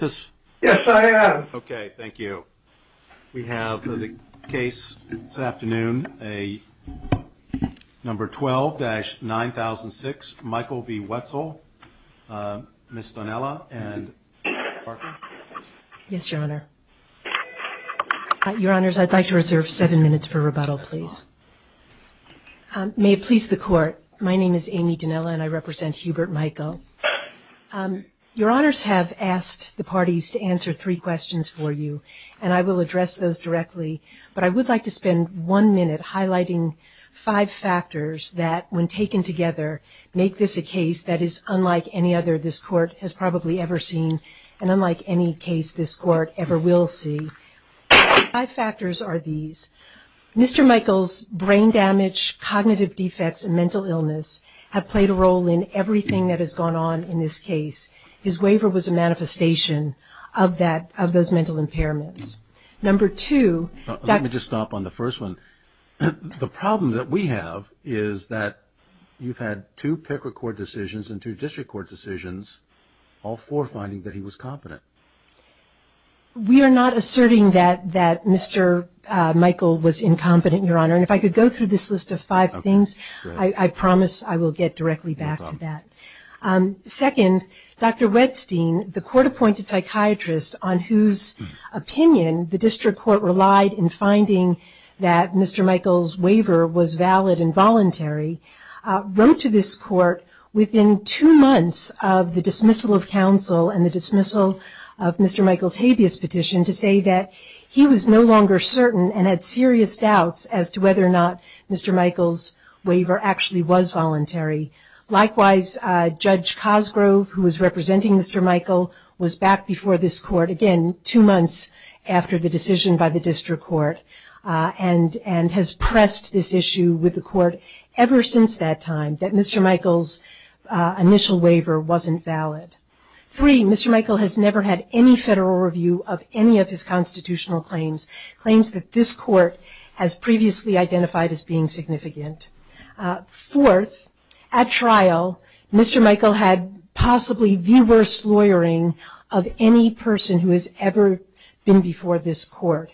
Yes, I am. Okay, thank you. We have for the case this afternoon a number 12-9006, Michael v. Wetzel, Ms. Donella, and Mr. Parker. Yes, Your Honor. Your Honors, I'd like to reserve seven minutes for rebuttal, please. May it please the Court, my name is Amy Donella and I represent Hubert Michael. Your Honors have asked the parties to answer three questions for you, and I will address those directly, but I would like to spend one minute highlighting five factors that, when taken together, make this a case that is unlike any other this Court has probably ever seen, and unlike any case this Court ever will see. Five factors are these. Mr. Michael's brain damage, cognitive defects, and mental illness have played a role in everything that has gone on in this case. His waiver was a manifestation of that, of those mental impairments. Number two... Let me just stop on the first one. The problem that we have is that you've had two Picker Court decisions and two District Court decisions, all four finding that he was competent. We are not asserting that Mr. Michael was incompetent, Your Honor, and if I could go through this list of five things, I promise I will get directly back to that. Second, Dr. Wettstein, the Court-appointed psychiatrist on whose opinion the District Court relied in finding that Mr. Michael's waiver was valid and voluntary, wrote to this Court within two months of the dismissal of counsel and the dismissal of Mr. Michael's habeas petition to say that he was no longer certain and had serious doubts as to whether or not Mr. Michael's waiver actually was voluntary. Likewise, Judge Cosgrove, who was representing Mr. Michael, was back before this Court again two months after the decision by the District Court and has pressed this issue with the Court ever since that time that Mr. Michael's initial waiver wasn't valid. Three, Mr. Michael has never had any review of any of his constitutional claims, claims that this Court has previously identified as being significant. Fourth, at trial, Mr. Michael had possibly the worst lawyering of any person who has ever been before this Court.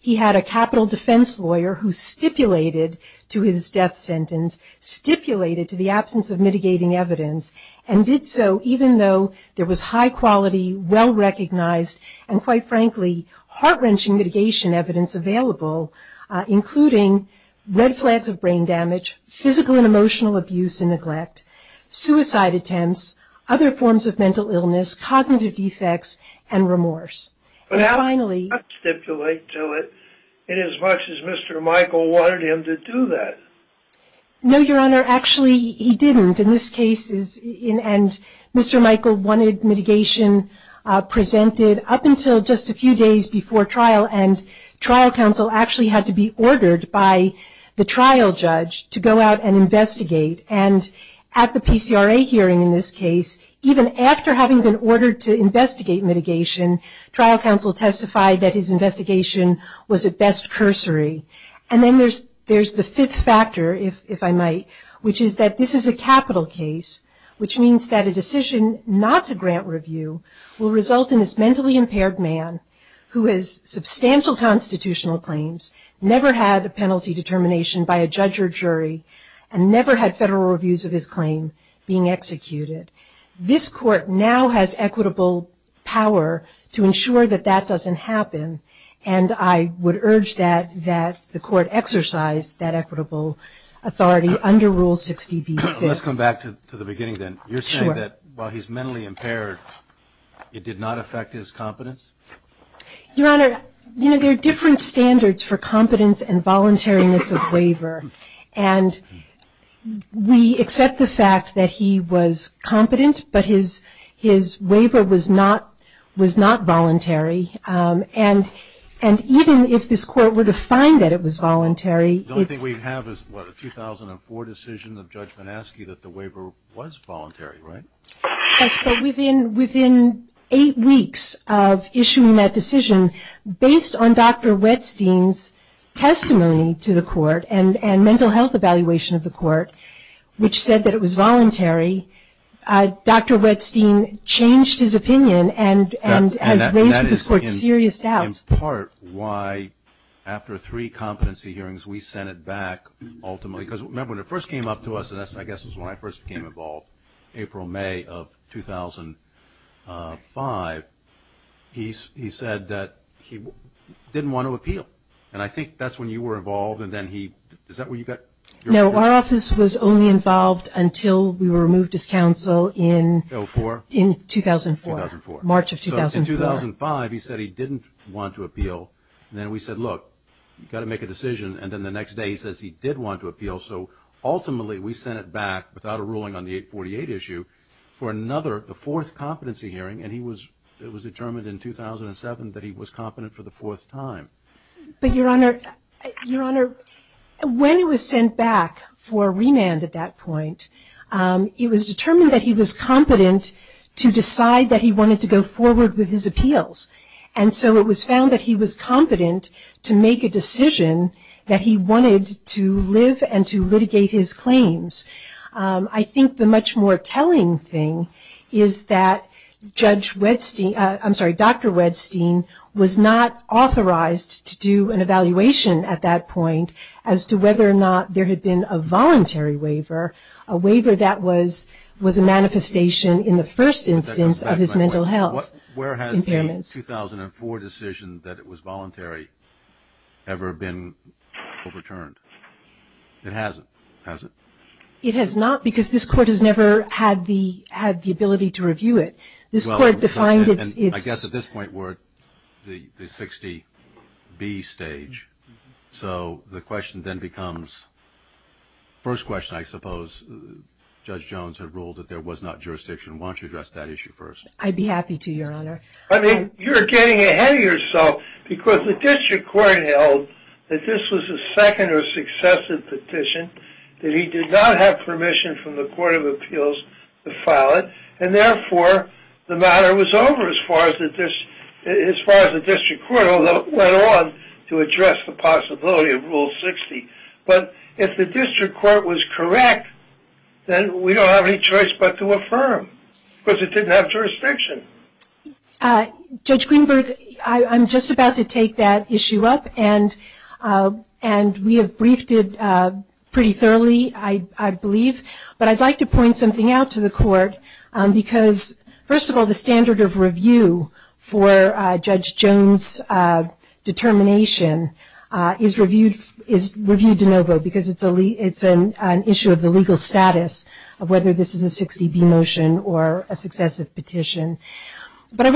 He had a capital defense lawyer who stipulated to his death sentence, stipulated to the absence of mitigating evidence, and did so even though there was high-quality, well-recognized, and quite frankly, heart-wrenching mitigation evidence available, including red flags of brain damage, physical and emotional abuse and neglect, suicide attempts, other forms of mental illness, cognitive defects, and remorse. And finally... But how did he not stipulate to it inasmuch as Mr. Michael wanted him to do that? No, Your Honor, actually he didn't. In this case, Mr. Michael wanted mitigation presented up until just a few days before trial, and trial counsel actually had to be ordered by the trial judge to go out and investigate. And at the PCRA hearing in this case, even after having been ordered to investigate mitigation, trial counsel testified that his investigation was at best cursory. And then there's the fifth factor, if I might, which is that this is a capital case, which means that a decision not to grant review will result in this mentally impaired man who has substantial constitutional claims, never had a penalty determination by a judge or jury, and never had federal reviews of his claim being executed. This court now has equitable power to ensure that that doesn't happen, and I would urge that the court exercise that equitable authority under Rule 60b-6. Let's come back to the beginning then. You're saying that while he's mentally impaired, it did not affect his competence? Your Honor, you know, there are different standards for competence and voluntariness of waiver. And we accept the fact that he was competent, but his waiver was not voluntary. And even if this court were to find that it was voluntary, it's... The only thing we have is, what, a 2004 decision of judgment asking that the waiver was voluntary, right? Yes, but within eight weeks of issuing that decision, based on Dr. Wettstein's testimony to the court and mental health evaluation of the court, which said that it was voluntary, Dr. Wettstein changed his opinion and has raised with this court serious doubts. And that is in part why, after three competency hearings, we sent it back, ultimately. Because remember, when it first came up to us, and I guess that's when I first became involved, April-May of 2005, he said that he didn't want to appeal. And I think that's when you were involved, and then he... Is that where you got your opinion? No, our office was only involved until we were removed as counsel in... 2004? In 2004. 2004. March of 2004. So in 2005, he said he didn't want to appeal. And then we said, look, you've got to make a decision. And then the next day, he says he did want to appeal. So ultimately, we sent it back, without a ruling on the 848 issue, for another, the fourth competency hearing. And it was determined in 2007 that he was competent for the fourth time. But, Your Honor, Your Honor, when it was sent back for remand at that point, it was determined that he was competent to decide that he wanted to go forward with his appeals. And so it was found that he was competent to make a decision that he wanted to live and to litigate his claims. I think the much more telling thing is that Judge Wedstein, I'm sorry, Dr. Wedstein, was not authorized to do an evaluation at that point as to whether or not there had been a voluntary waiver, a waiver that was a manifestation in the first instance of his mental health impairments. Where has the 2004 decision that it was voluntary ever been overturned? It hasn't, has it? It has not, because this Court has never had the ability to review it. This Court defined I guess at this point we're at the 60B stage. So the question then becomes, first question, I suppose, Judge Jones had ruled that there was not jurisdiction. Why don't you address that issue first? I'd be happy to, Your Honor. I mean, you're getting ahead of yourself because the District Court held that this was a second or successive petition, that he did not have permission from the Court of Appeals to file it, and therefore the matter was over as far as the District Court went on to address the possibility of Rule 60. But if the District Court was correct, then we don't have any choice but to affirm, because it didn't have jurisdiction. Judge Greenberg, I'm just about to take that issue up, and we have briefed it pretty thoroughly, I believe. But I'd like to point something out to the Court, because first of all, the standard of review for Judge Jones' determination is reviewed de novo, because it's an issue of the legal status of whether this is a 60B motion or a successive petition. But I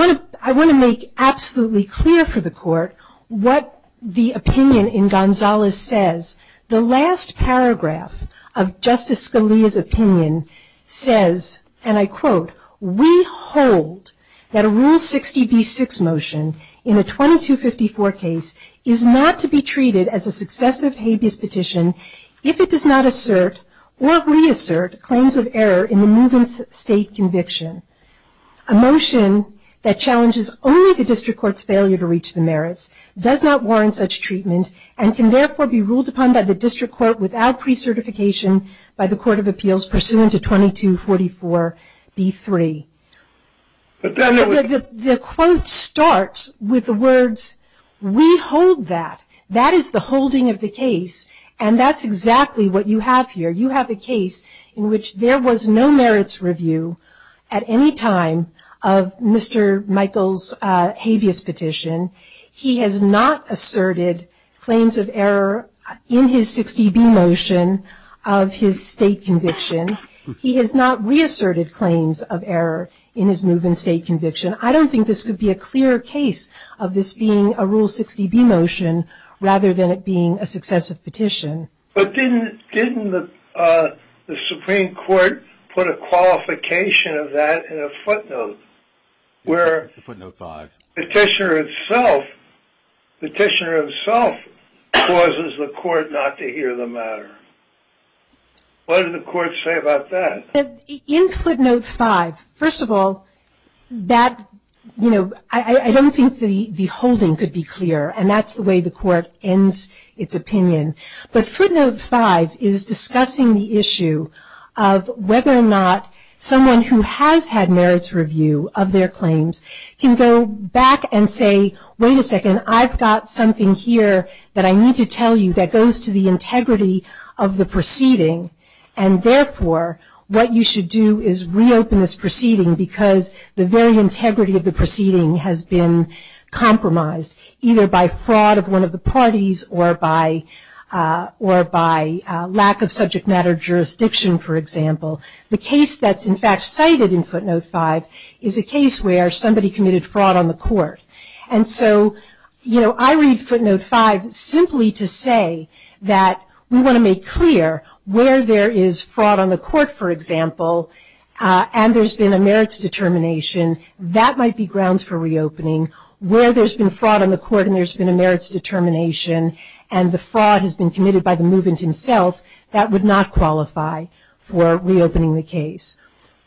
want to make absolutely clear for the Court what the opinion in Gonzales says. The last paragraph of Justice Scalia's opinion says, and I quote, We hold that a Rule 60B6 motion in a 2254 case is not to be treated as a successive habeas petition if it does not assert or reassert claims of error in the move-in state conviction. A motion that challenges only the District Court's failure to reach the merits does not without precertification by the Court of Appeals pursuant to 2244B3. The quote starts with the words, we hold that. That is the holding of the case, and that's exactly what you have here. You have a case in which there was no merits review at any time of Mr. Michael's habeas petition. He has not asserted claims of error in his 60B motion of his state conviction. He has not reasserted claims of error in his move-in state conviction. I don't think this could be a clearer case of this being a Rule 60B motion rather than it being a successive petition. But didn't the Supreme Court put a qualification of that in a footnote where the petitioner himself causes the court not to hear the matter? What did the court say about that? In footnote 5, first of all, I don't think the holding could be clearer, and that's the way the court ends its opinion. But footnote 5 is discussing the issue of whether or not someone who has had merits review of their claims can go back and say, wait a second, I've got something here that I need to tell you that goes to the integrity of the proceeding, and therefore what you should do is reopen this proceeding because the very integrity of the proceeding has been compromised either by fraud of one of the parties or by lack of subject matter jurisdiction, for example. The case that's in fact cited in footnote 5 is a case where somebody committed fraud on the court. And so I read footnote 5 simply to say that we want to make clear where there is fraud on the court, for example, and there's been a merits determination. That might be grounds for reopening. Where there's been fraud on the court and there's been a merits determination and the fraud has been committed by the movement himself, that would not qualify for reopening the case.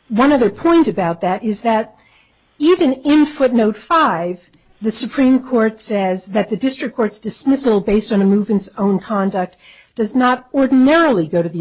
One other point about that is that even in footnote 5, the Supreme Court says that the district court's dismissal based on a movement's own conduct does not ordinarily go to the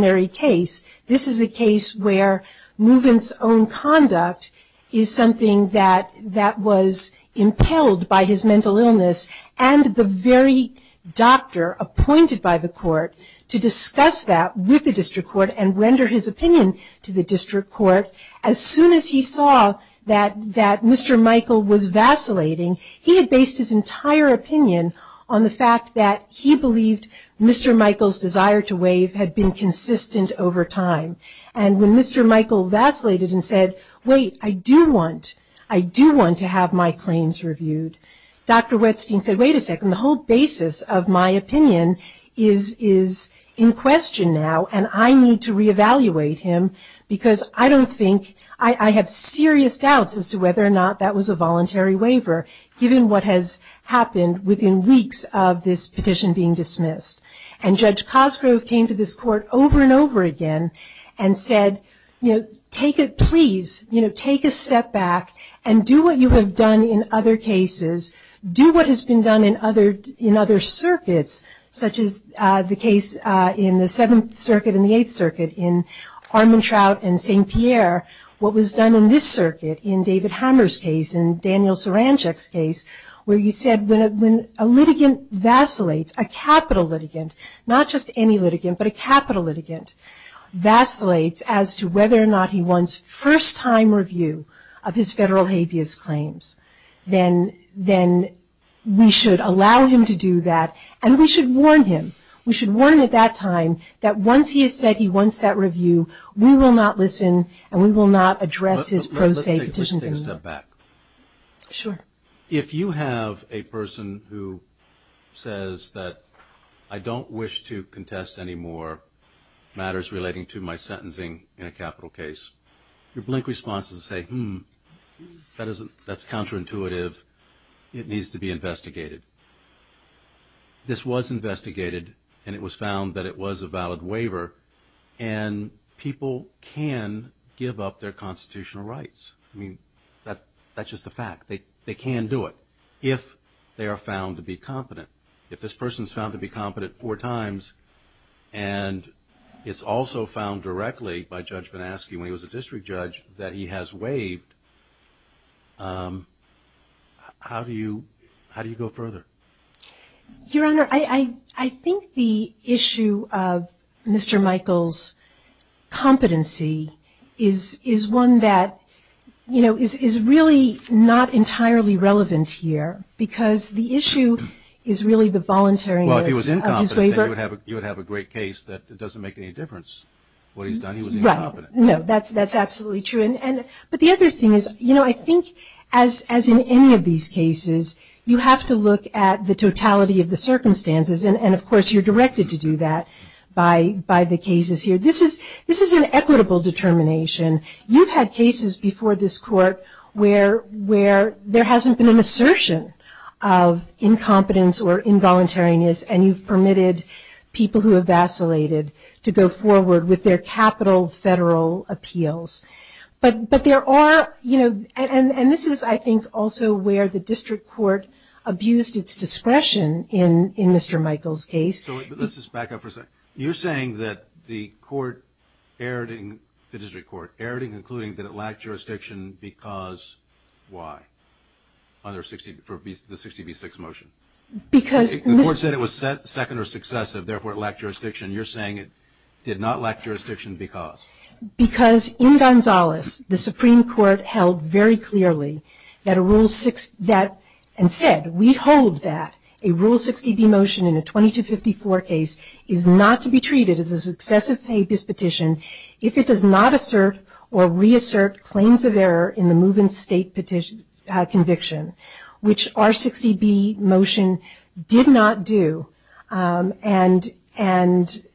very case. This is a case where movement's own conduct is something that was impelled by his mental illness and the very doctor appointed by the court to discuss that with the district court and render his opinion to the district court. As soon as he saw that Mr. Michael was vacillating, he had based his entire opinion on the fact that he believed Mr. Michael's desire to waive had been consistent over time. And when Mr. Michael vacillated and said, wait, I do want, I do want to have my claims reviewed, Dr. Wettstein said, wait a second, the whole basis of my opinion is in question now and I need to reevaluate him because I don't think, I have serious doubts as to whether or not that was a voluntary waiver given what has happened within weeks of this petition being dismissed. And Judge Cosgrove came to this court over and over again and said, you know, take it, please, you know, take a step back and do what you have done in other cases, do what has been done in other, in other circuits, such as the case in the Seventh Circuit and the Eighth Circuit in Armantrout and St. Pierre, what was done in this circuit, in David Hammer's case and Daniel Sarancic's case, where you said when a litigant vacillates, a capital litigant, not just any litigant, but a capital litigant vacillates as to whether or not he wants first-time review of his federal habeas claims, then, then we should allow him to do that and we should warn him. We should warn him at that time that once he has said he wants that review, we will not listen and we will not address his pro se petitions. Take a step back. Sure. If you have a person who says that I don't wish to contest any more matters relating to my sentencing in a capital case, your blink response is to say, hmm, that isn't, that's counterintuitive. It needs to be investigated. This was investigated and it was found that it was a valid waiver and people can give up their constitutional rights. I mean, that's, that's just a fact. They, they can do it if they are found to be competent. If this person's found to be competent four times and it's also found directly by Judge Van Aske when he was a district judge that he has waived, um, how do you, how do you go further? Your Honor, I, I, I think the issue of Mr. Michael's competency is, is one that, you know, is, is really not entirely relevant here because the issue is really the voluntaryness of his waiver. Well, if he was incompetent, then you would have, you would have a great case that it doesn't make any difference what he's done. He was incompetent. Well, no, that's, that's absolutely true. And, and, but the other thing is, you know, I think as, as in any of these cases, you have to look at the totality of the circumstances and, and of course you're directed to do that by, by the cases here. This is, this is an equitable determination. You've had cases before this court where, where there hasn't been an assertion of incompetence or involuntariness and you've permitted people who have vacillated to go forward with their capital federal appeals. But, but there are, you know, and, and this is, I think, also where the district court abused its discretion in, in Mr. Michael's case. So let's just back up for a second. You're saying that the court erred in, the district court erred in concluding that it lacked jurisdiction because why? Under 60, for the 60 v. 6 motion. Because Mr. The court said it was second or successive, therefore it lacked jurisdiction. You're saying it did not lack jurisdiction because? Because in Gonzales, the Supreme Court held very clearly that a rule six, that and said, we hold that a rule 60 v. motion in a 20 to 54 case is not to be treated as a successive APIS petition if it does not assert or reassert claims of error in the move in state petition, conviction, which our 60 v. motion did not do. And, and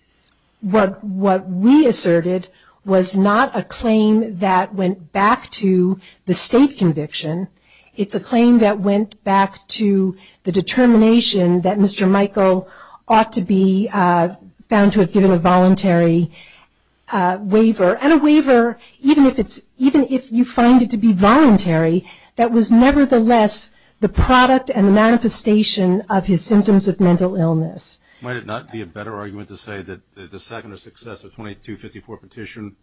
what, what we asserted was not a claim that went back to the state conviction. It's a claim that went back to the determination that Mr. Michael ought to be found to have given a voluntary waiver and a waiver, even if it's, even if you find it to be voluntary, that was nevertheless the product and the manifestation of his symptoms of mental illness. Might it not be a better argument to say that the second or successive 20 to 54 petition,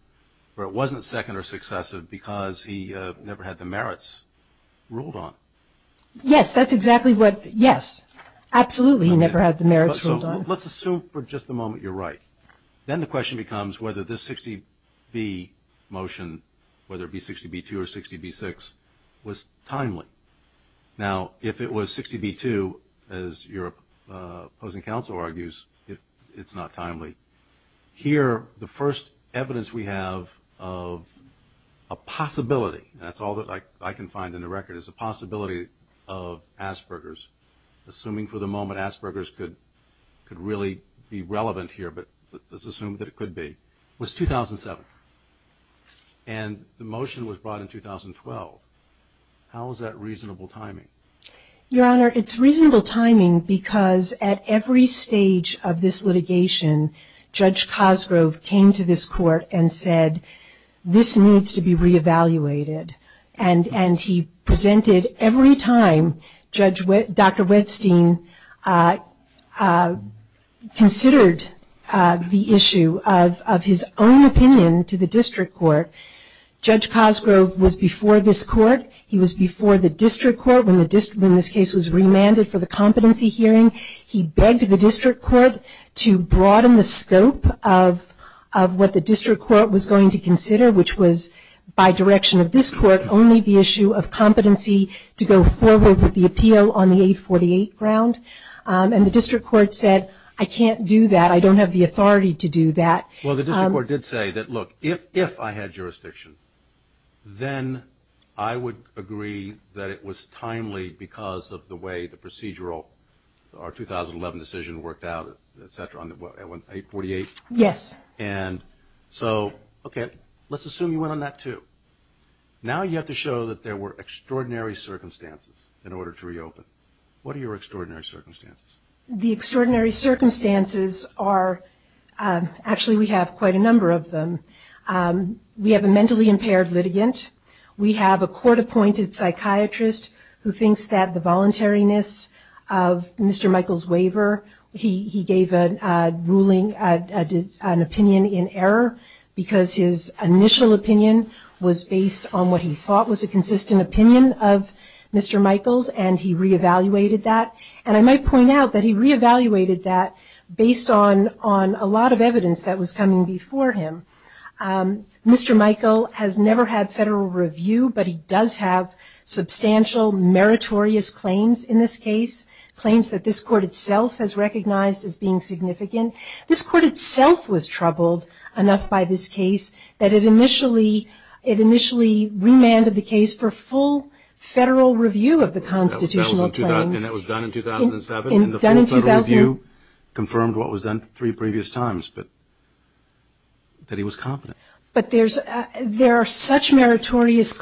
where it wasn't second or successive because he never had the merits ruled on? Yes, that's exactly what, yes, absolutely he never had the merits ruled on. Let's assume for just a moment you're right. Then the question becomes whether this 60 v. motion, whether it be 60 v. 2 or 60 v. 6, was timely. Now, if it was 60 v. 2, as your opposing counsel argues, it's not timely. Here, the first evidence we have of a possibility, and that's all that I can find in the record, is a possibility of Asperger's. Assuming for the moment Asperger's could, could really be relevant here, but let's assume that it could be, was 2007. And the motion was brought in 2012. How is that reasonable timing? Your Honor, it's reasonable timing because at every stage of this litigation, Judge Cosgrove came to this court and said, this needs to be reevaluated. And, and he raised the issue of, of his own opinion to the district court. Judge Cosgrove was before this court. He was before the district court when the district, in this case, was remanded for the competency hearing. He begged the district court to broaden the scope of, of what the district court was going to consider, which was, by direction of this court, only the issue of competency to go forward with the appeal on the 848 ground. And the district court said, I can't do that. I don't have the authority to do that. Well, the district court did say that, look, if, if I had jurisdiction, then I would agree that it was timely because of the way the procedural, our 2011 decision worked out, et cetera, on the 848. Yes. And so, okay, let's assume you went on that too. Now you have to show that there were extraordinary circumstances in order to reopen. What are your extraordinary circumstances? The extraordinary circumstances are, actually, we have quite a number of them. We have a mentally impaired litigant. We have a court-appointed psychiatrist who thinks that the voluntariness of Mr. Michael's waiver, he, he gave a ruling, an opinion in error because his initial opinion was based on what he thought was a consistent opinion of Mr. Michael's, and he re-evaluated that. And I might point out that he re-evaluated that based on, on a lot of evidence that was coming before him. Mr. Michael has never had federal review, but he does have substantial meritorious claims in this case, claims that this court itself has recognized as being significant. This court itself was troubled enough by this case that it initially, it actually remanded the case for full federal review of the constitutional claims. And that was done in 2007? And the full federal review confirmed what was done three previous times, but, that he was competent. But there's, there are such meritorious,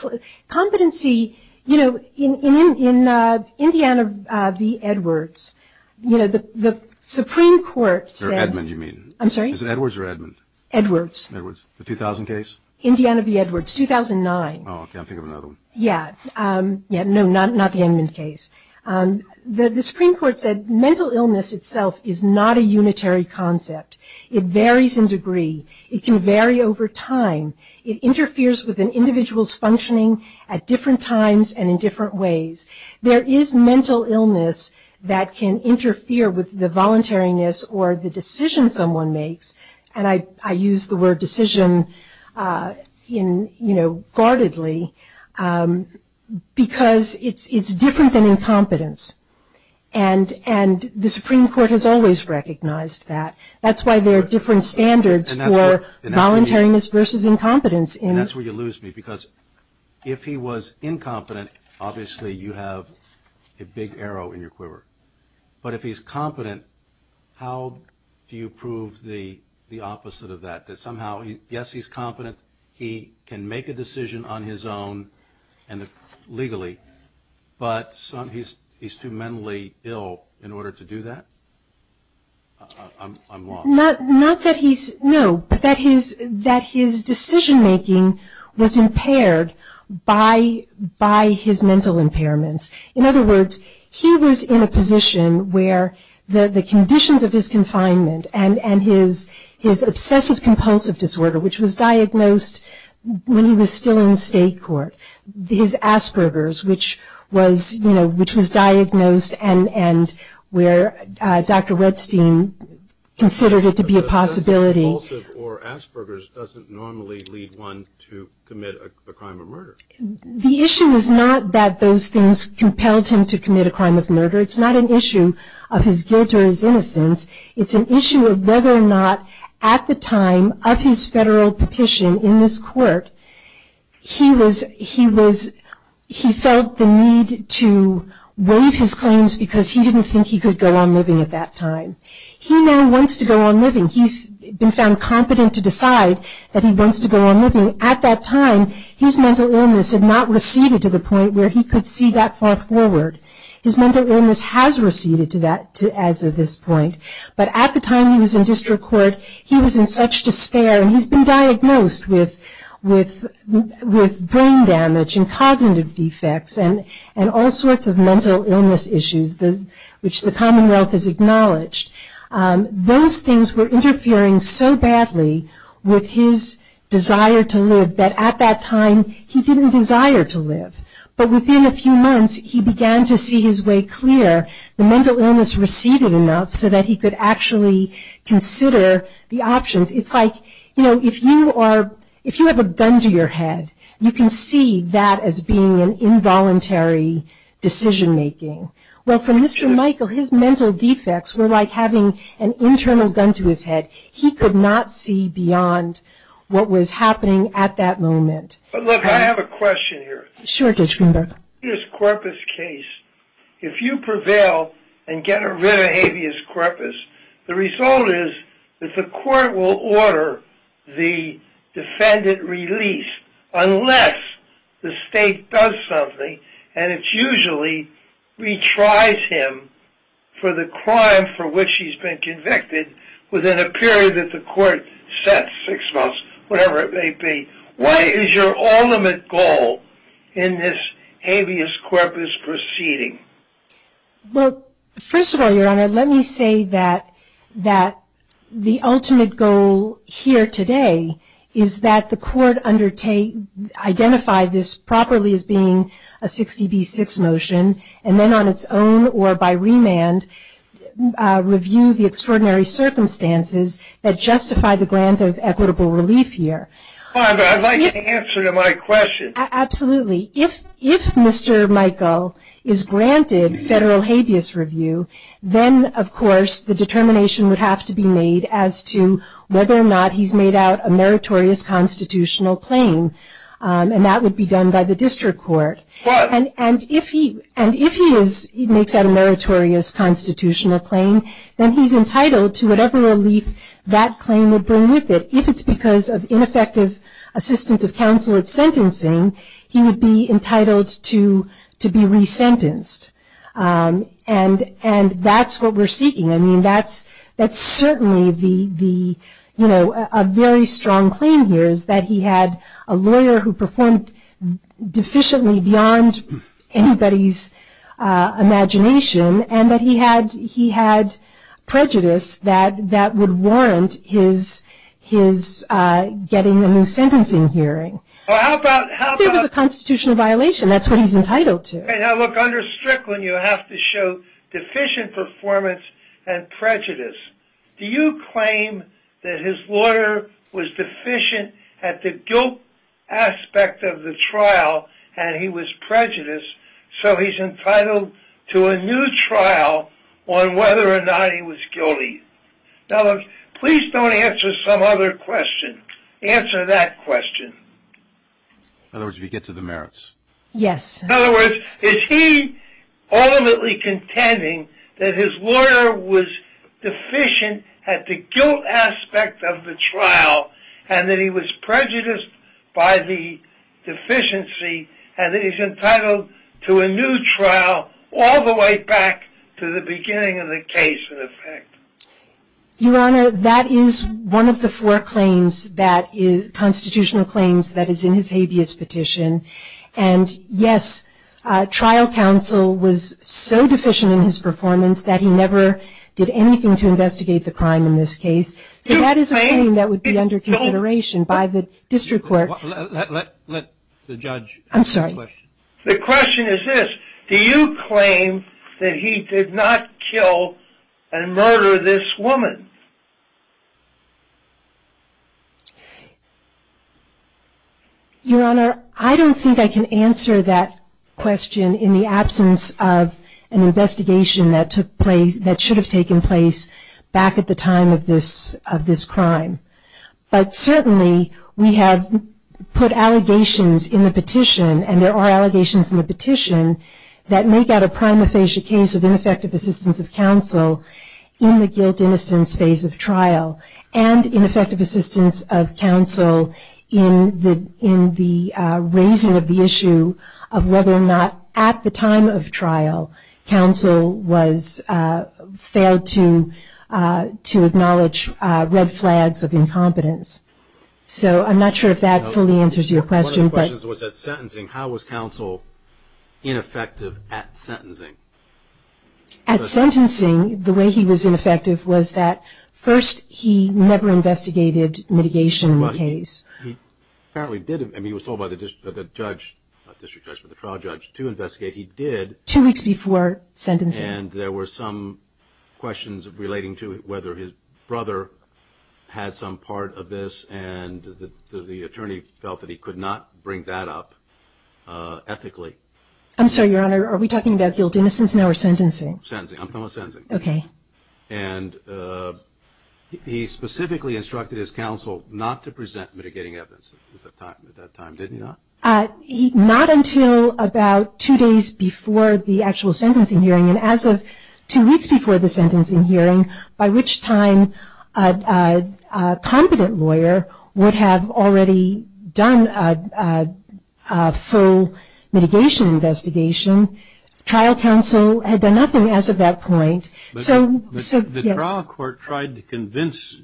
competency, you know, in, in, in Indiana v. Edwards, you know, the, the Supreme Court said. Or Edmund, you mean? I'm sorry? Is it Edwards or Edmund? Edwards. Edwards. The 2000 case? Indiana v. Edwards, 2009. Oh, I can't think of another one. Yeah. Yeah, no, not, not the Edmund case. The, the Supreme Court said mental illness itself is not a unitary concept. It varies in degree. It can vary over time. It interferes with an individual's functioning at different times and in different ways. There is mental illness that can interfere with the voluntariness or the decision someone makes. And I, I use the word decision in, you know, guardedly. Because it's, it's different than incompetence. And, and the Supreme Court has always recognized that. That's why there are different standards for voluntariness versus incompetence. And that's where you lose me. Because if he was incompetent, obviously you have a big arrow in your quiver. But if he's competent, how do you prove the, the opposite of that? That somehow, yes, he's competent. He can make a decision on his own and legally. But some, he's, he's too mentally ill in order to do that. I'm, I'm lost. Not, not that he's, no, but that his, that his decision making was impaired by, by his mental impairments. In other words, he was in a position where the, the conditions of his confinement and, and his, his obsessive compulsive disorder, which was diagnosed when he was still in state court. His Asperger's, which was, you know, which was diagnosed and, and where Dr. Redstein considered it to be a possibility. But obsessive compulsive or Asperger's doesn't normally lead one to commit a crime or murder. The issue is not that those things compelled him to commit a crime of murder. It's not an issue of his guilt or his innocence. It's an issue of whether or not at the time of his federal petition in this court, he was, he was, he felt the need to waive his claims because he didn't think he could go on living at that time. He now wants to go on living. He's been found competent to decide that he wants to go on living. At that time, his mental illness had not receded to the point where he could see that far forward. His mental illness has receded to that, to as of this point. But at the time he was in district court, he was in such despair and he's been diagnosed with, with, with brain damage and cognitive defects and, and all sorts of mental illness issues, the, which the Commonwealth has acknowledged. Those things were interfering so badly with his desire to live that at that time he didn't desire to live. But within a few months, he began to see his way clear. The mental illness receded enough so that he could actually consider the options. It's like, you know, if you are, if you have a gun to your head, you can see that as being an involuntary decision making. Well, for Mr. Michael, his mental defects were like having an internal gun to his head. He could not see beyond what was happening at that moment. But look, I have a question here. Sure, Judge Greenberg. In this corpus case, if you prevail and get rid of habeas corpus, the result is that the court detries him for the crime for which he's been convicted within a period that the court sets, six months, whatever it may be. What is your ultimate goal in this habeas corpus proceeding? Well, first of all, Your Honor, let me say that, that the ultimate goal here today is that the court undertake, identify this properly as being a 60B6 motion, and then on its own or by remand, review the extraordinary circumstances that justify the grant of equitable relief here. Your Honor, I'd like an answer to my question. Absolutely. If, if Mr. Michael is granted federal habeas review, then of course the constitutional claim, and that would be done by the district court. Right. And, and if he, and if he is, he makes out a meritorious constitutional claim, then he's entitled to whatever relief that claim would bring with it. If it's because of ineffective assistance of counsel at sentencing, he would be entitled to, to be resentenced. And, and that's what we're seeking. I mean, that's, that's certainly the, the, you know, a very strong claim here is that he had a lawyer who performed deficiently beyond anybody's imagination, and that he had, he had prejudice that, that would warrant his, his getting a new sentence in hearing. Well, how about, how about... If it was a constitutional violation, that's what he's entitled to. Now look, under Strickland, you have to show deficient performance and prejudice. Do you claim that his lawyer was deficient at the guilt aspect of the trial, and he was prejudiced, so he's entitled to a new trial on whether or not he was guilty? Now look, please don't answer some other question. Answer that question. In other words, we get to the merits. Yes. In other words, is he ultimately contending that his lawyer was deficient at the guilt aspect of the trial, and that he was prejudiced by the deficiency, and that he's entitled to a new trial all the way back to the beginning of the case, in effect? Your Honor, that is one of the four claims that is, constitutional claims that is in his habeas petition, and yes, trial counsel was so deficient in his performance that he never did anything to investigate the crime in this case. Do you claim... So that is a claim that would be under consideration by the district court. Let, let, let the judge... I'm sorry. The question is this, do you claim that he did not kill and murder this woman? Your Honor, I don't think I can answer that question in the absence of an investigation that took place, that should have taken place back at the time of this, of this crime. But certainly, we have put allegations in the petition, and there are allegations in the petition, that make out a prima facie case of ineffective assistance of counsel in the guilt innocence phase of trial, and ineffective assistance of counsel in the, in the raising of the issue of whether or not at the time of trial, counsel was, failed to, to acknowledge red flags of incompetence. So, I'm not sure if that fully answers your question, but... One of the questions was that sentencing, how was counsel ineffective at sentencing? At sentencing, the way he was ineffective was that, first, he never investigated mitigation in the case. He apparently did, I mean, he was told by the judge, not district judge, but the trial judge to investigate, he did... Two weeks before sentencing. And there were some questions relating to whether his brother had some part of this, and the attorney felt that he could not bring that up ethically. I'm sorry, Your Honor, are we talking about guilt innocence now, or sentencing? Sentencing, I'm talking about sentencing. Okay. And he specifically instructed his counsel not to present mitigating evidence at that time, did he not? Not until about two days before the actual sentencing hearing, and as of two weeks before the sentencing hearing, by which time a competent lawyer would have already done a full mitigation investigation. Trial counsel had done nothing as of that point. So, yes. The trial court tried to convince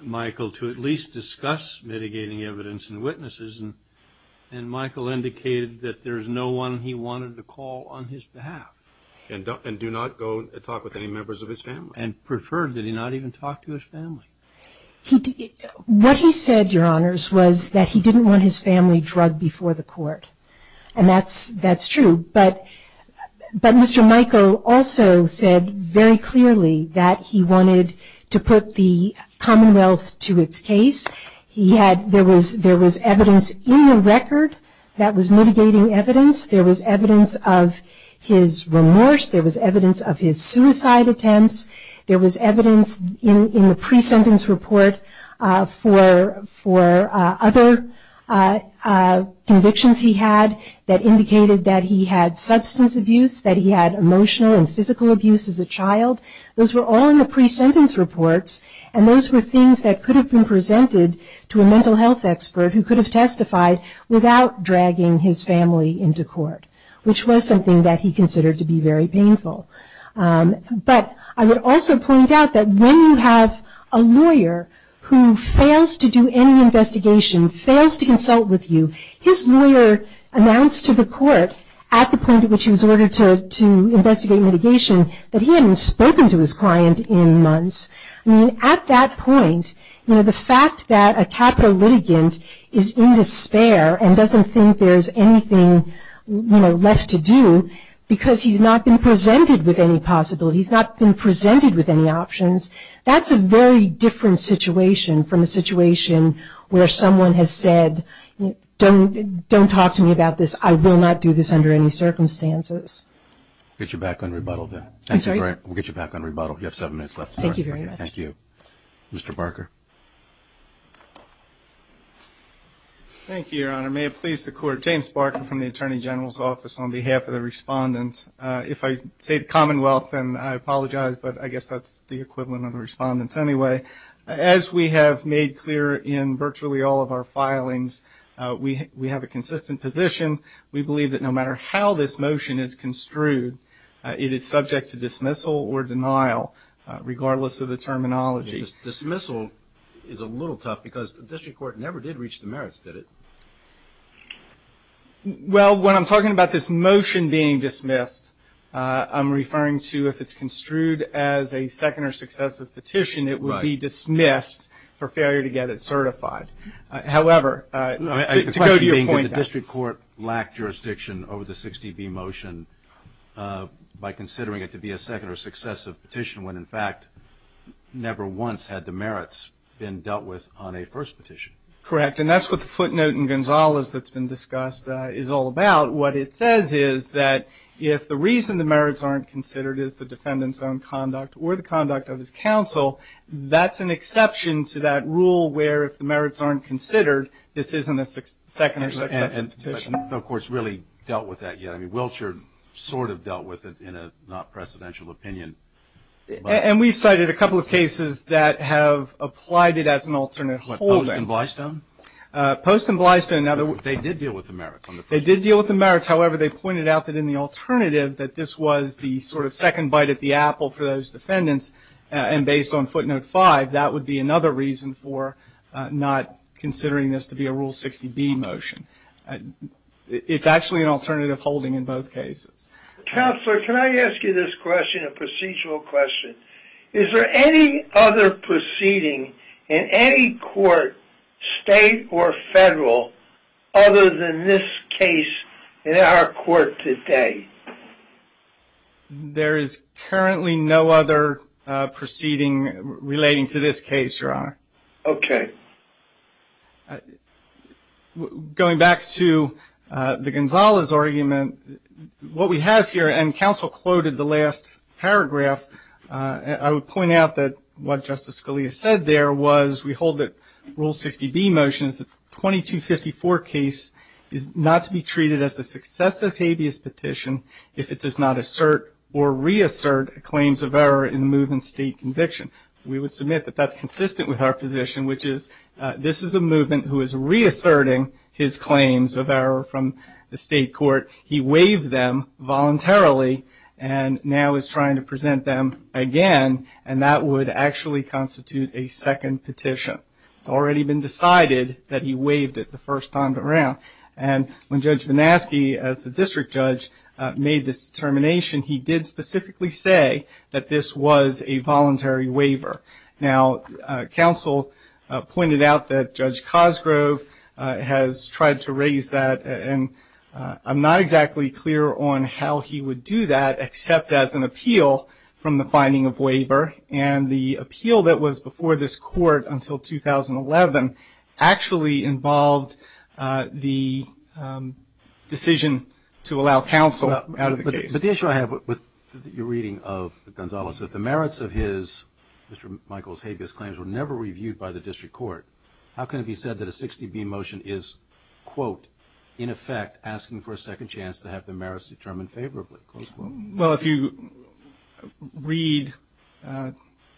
Michael to at least discuss mitigating evidence and witnesses, and Michael indicated that there's no one he wanted to call on his behalf. And do not go talk with any members of his family. And preferred that he not even talk to his family. What he said, Your Honors, was that he didn't want his family drugged before the court. And that's true. But Mr. Michael also said very clearly that he wanted to put the Commonwealth to its case. He had, there was evidence in the record that was mitigating evidence. There was evidence of his remorse. There was evidence of his suicide attempts. There was evidence in the pre-sentence report for other convictions he had that indicated that he had substance abuse, that he had emotional and physical abuse as a child. Those were all in the pre-sentence reports, and those were things that could have been presented to a mental health expert who could have testified without dragging his family into court, which was something that he considered to be very painful. But I would also point out that when you have a lawyer who fails to do any investigation, fails to consult with you, his lawyer announced to the court at the point at which he was ordered to investigate mitigation that he hadn't spoken to his client in months. I mean, at that point, you know, the fact that a capital litigant is in despair and doesn't think there's anything, you know, left to do because he's not been presented with any possibilities, not been presented with any options, that's a very different situation from the situation where someone has said, don't talk to me about this. I will not do this under any circumstances. Get you back on rebuttal then. I'm sorry? We'll get you back on rebuttal. You have seven minutes left. Thank you very much. Thank you. Mr. Barker. Thank you, Your Honor. May it please the court. James Barker from the Attorney General's Office on behalf of the respondents. If I say the Commonwealth, then I apologize, but I guess that's the equivalent of the respondents anyway. As we have made clear in virtually all of our filings, we have a consistent position. We believe that no matter how this motion is construed, it is subject to dismissal or denial, regardless of the terminology. Dismissal is a little tough because the district court never did reach the merits, did it? Well, when I'm talking about this motion being dismissed, I'm referring to if it's construed as a second or successive petition, it would be dismissed for failure to get it certified. However, to go to your point. The question being that the district court lacked jurisdiction over the 60B motion by considering it to be a second or successive petition when, in fact, never once had the merits been dealt with on a first petition. Correct. And that's what the footnote in Gonzalez that's been discussed is all about. What it says is that if the reason the merits aren't considered is the defendant's own conduct or the conduct of his counsel, that's an exception to that rule where if the merits aren't considered, this isn't a second or successive petition. We haven't, of course, really dealt with that yet. I mean, Wiltshire sort of dealt with it in a not precedential opinion. And we've cited a couple of cases that have applied it as an alternate holding. What, Post and Blystone? Post and Blystone. They did deal with the merits on the first one. They did deal with the merits. However, they pointed out that in the alternative that this was the sort of second bite at the apple for those defendants, and based on footnote five, that would be another reason for not considering this to be a Rule 60B motion. It's actually an alternative holding in both cases. Counselor, can I ask you this question, a procedural question? Is there any other proceeding in any court, state or federal, other than this case in our court today? There is currently no other proceeding relating to this case, Your Honor. Okay. Going back to the Gonzales argument, what we have here, and Counsel quoted the last paragraph, I would point out that what Justice Scalia said there was we hold that Rule 60B motion is that the 2254 case is not to be treated as a successive habeas petition if it does not assert or reassert claims of error in the move in state conviction. We would submit that that's consistent with our position, which is this is a movement who is reasserting his claims of error from the state court. He waived them voluntarily and now is trying to present them again, and that would actually constitute a second petition. It's already been decided that he waived it the first time around. And when Judge Vanasky, as the district judge, made this determination, he did specifically say that this was a voluntary waiver. Now, Counsel pointed out that Judge Cosgrove has tried to raise that, and I'm not exactly clear on how he would do that except as an appeal from the finding of waiver. And the appeal that was before this court until 2011 actually involved the decision to allow Counsel out of the case. But the issue I have with your reading of Gonzales is if the merits of his, Mr. Michaels' habeas claims were never reviewed by the district court, how can it be said that a 60B motion is, quote, in effect asking for a second chance to have the merits determined favorably? Well, if you read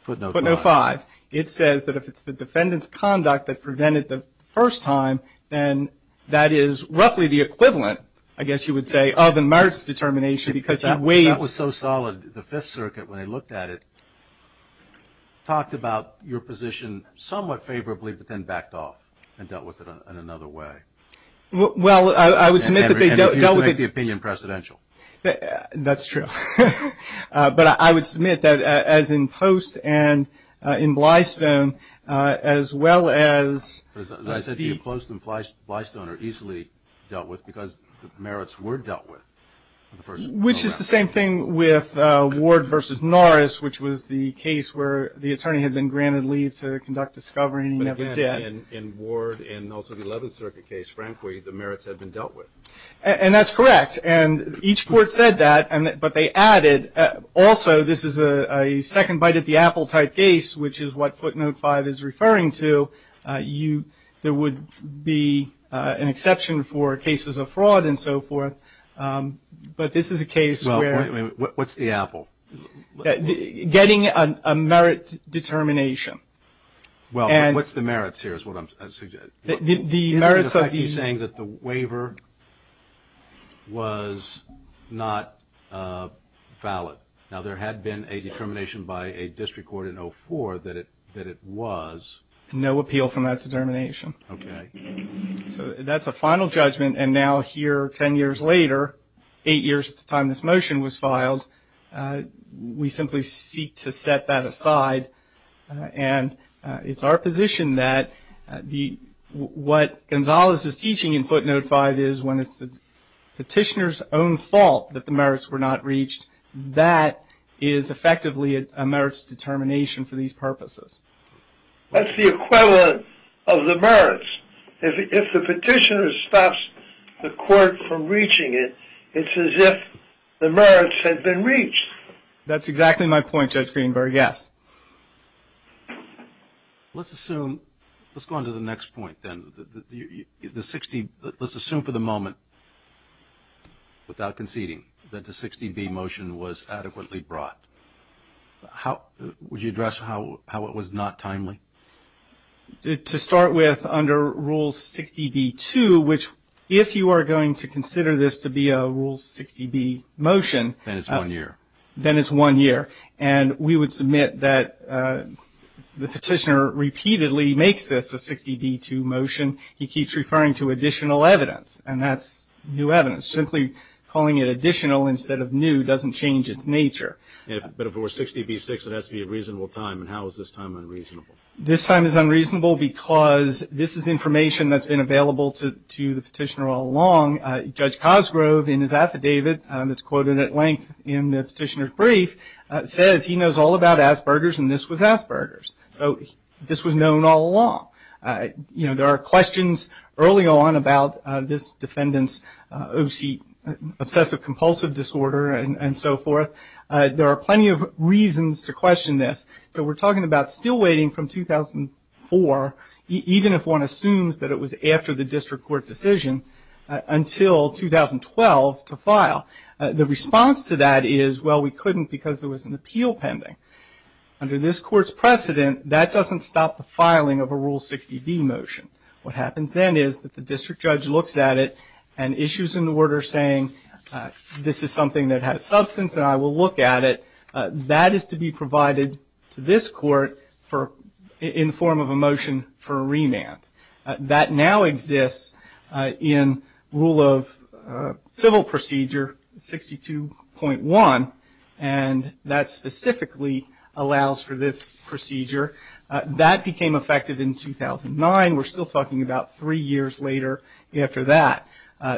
footnote 5, it says that if it's the defendant's conduct that prevented the first time, then that is roughly the equivalent, I guess you would say, of a merits determination because he waived. That was so solid. The Fifth Circuit, when they looked at it, talked about your position somewhat favorably but then backed off and dealt with it in another way. Well, I would submit that they dealt with it. And refused to make the opinion precedential. That's true. But I would submit that as in Post and in Blystone, as well as the... Which is the same thing with Ward v. Norris, which was the case where the attorney had been granted leave to conduct discovery and he never did. But again, in Ward and also the Eleventh Circuit case, frankly, the merits had been dealt with. And that's correct. And each court said that, but they added also this is a second bite at the apple type case, which is what footnote 5 is referring to. There would be an exception for cases of fraud and so forth. But this is a case where... What's the apple? Getting a merit determination. Well, what's the merits here is what I'm suggesting. The merits of... He's saying that the waiver was not valid. Now, there had been a determination by a district court in 04 that it was... No appeal from that determination. Okay. So that's a final judgment. And now here, ten years later, eight years at the time this motion was filed, we simply seek to set that aside. And it's our position that what Gonzales is teaching in footnote 5 is when it's the petitioner's own fault that the merits were not reached, that is effectively a merits determination for these purposes. That's the equivalent of the merits. If the petitioner stops the court from reaching it, it's as if the merits had been reached. That's exactly my point, Judge Greenberg, yes. Let's assume... Let's go on to the next point then. The 60... Let's assume for the moment without conceding that the 60B motion was adequately brought. Would you address how it was not timely? To start with, under Rule 60B-2, which if you are going to consider this to be a Rule 60B motion... Then it's one year. Then it's one year. And we would submit that the petitioner repeatedly makes this a 60B-2 motion. He keeps referring to additional evidence, and that's new evidence. Simply calling it additional instead of new doesn't change its nature. But if it were 60B-6, it has to be a reasonable time, and how is this time unreasonable? This time is unreasonable because this is information that's been available to the petitioner all along. Judge Cosgrove, in his affidavit that's quoted at length in the petitioner's brief, says he knows all about Asperger's, and this was Asperger's. So this was known all along. There are questions early on about this defendant's obsessive-compulsive disorder and so forth. There are plenty of reasons to question this. So we're talking about still waiting from 2004, even if one assumes that it was after the district court decision, until 2012 to file. The response to that is, well, we couldn't because there was an appeal pending. Under this court's precedent, that doesn't stop the filing of a Rule 60B motion. What happens then is that the district judge looks at it and issues an order saying, this is something that has substance and I will look at it. That is to be provided to this court in the form of a motion for a remand. That now exists in Rule of Civil Procedure 62.1, and that specifically allows for this procedure. That became effective in 2009. We're still talking about three years later after that.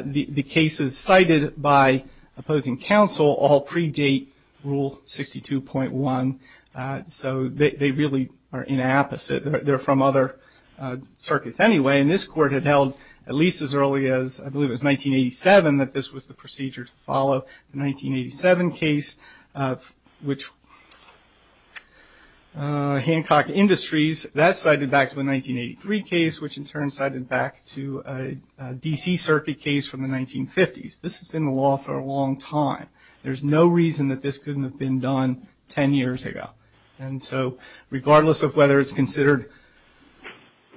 The cases cited by opposing counsel all predate Rule 62.1, so they really are inapposite. They're from other circuits anyway, and this court had held at least as early as, I believe it was 1987 that this was the procedure to follow. The 1987 case, which Hancock Industries, that cited back to a 1983 case, which in turn cited back to a D.C. circuit case from the 1950s. This has been the law for a long time. There's no reason that this couldn't have been done 10 years ago. And so regardless of whether it's considered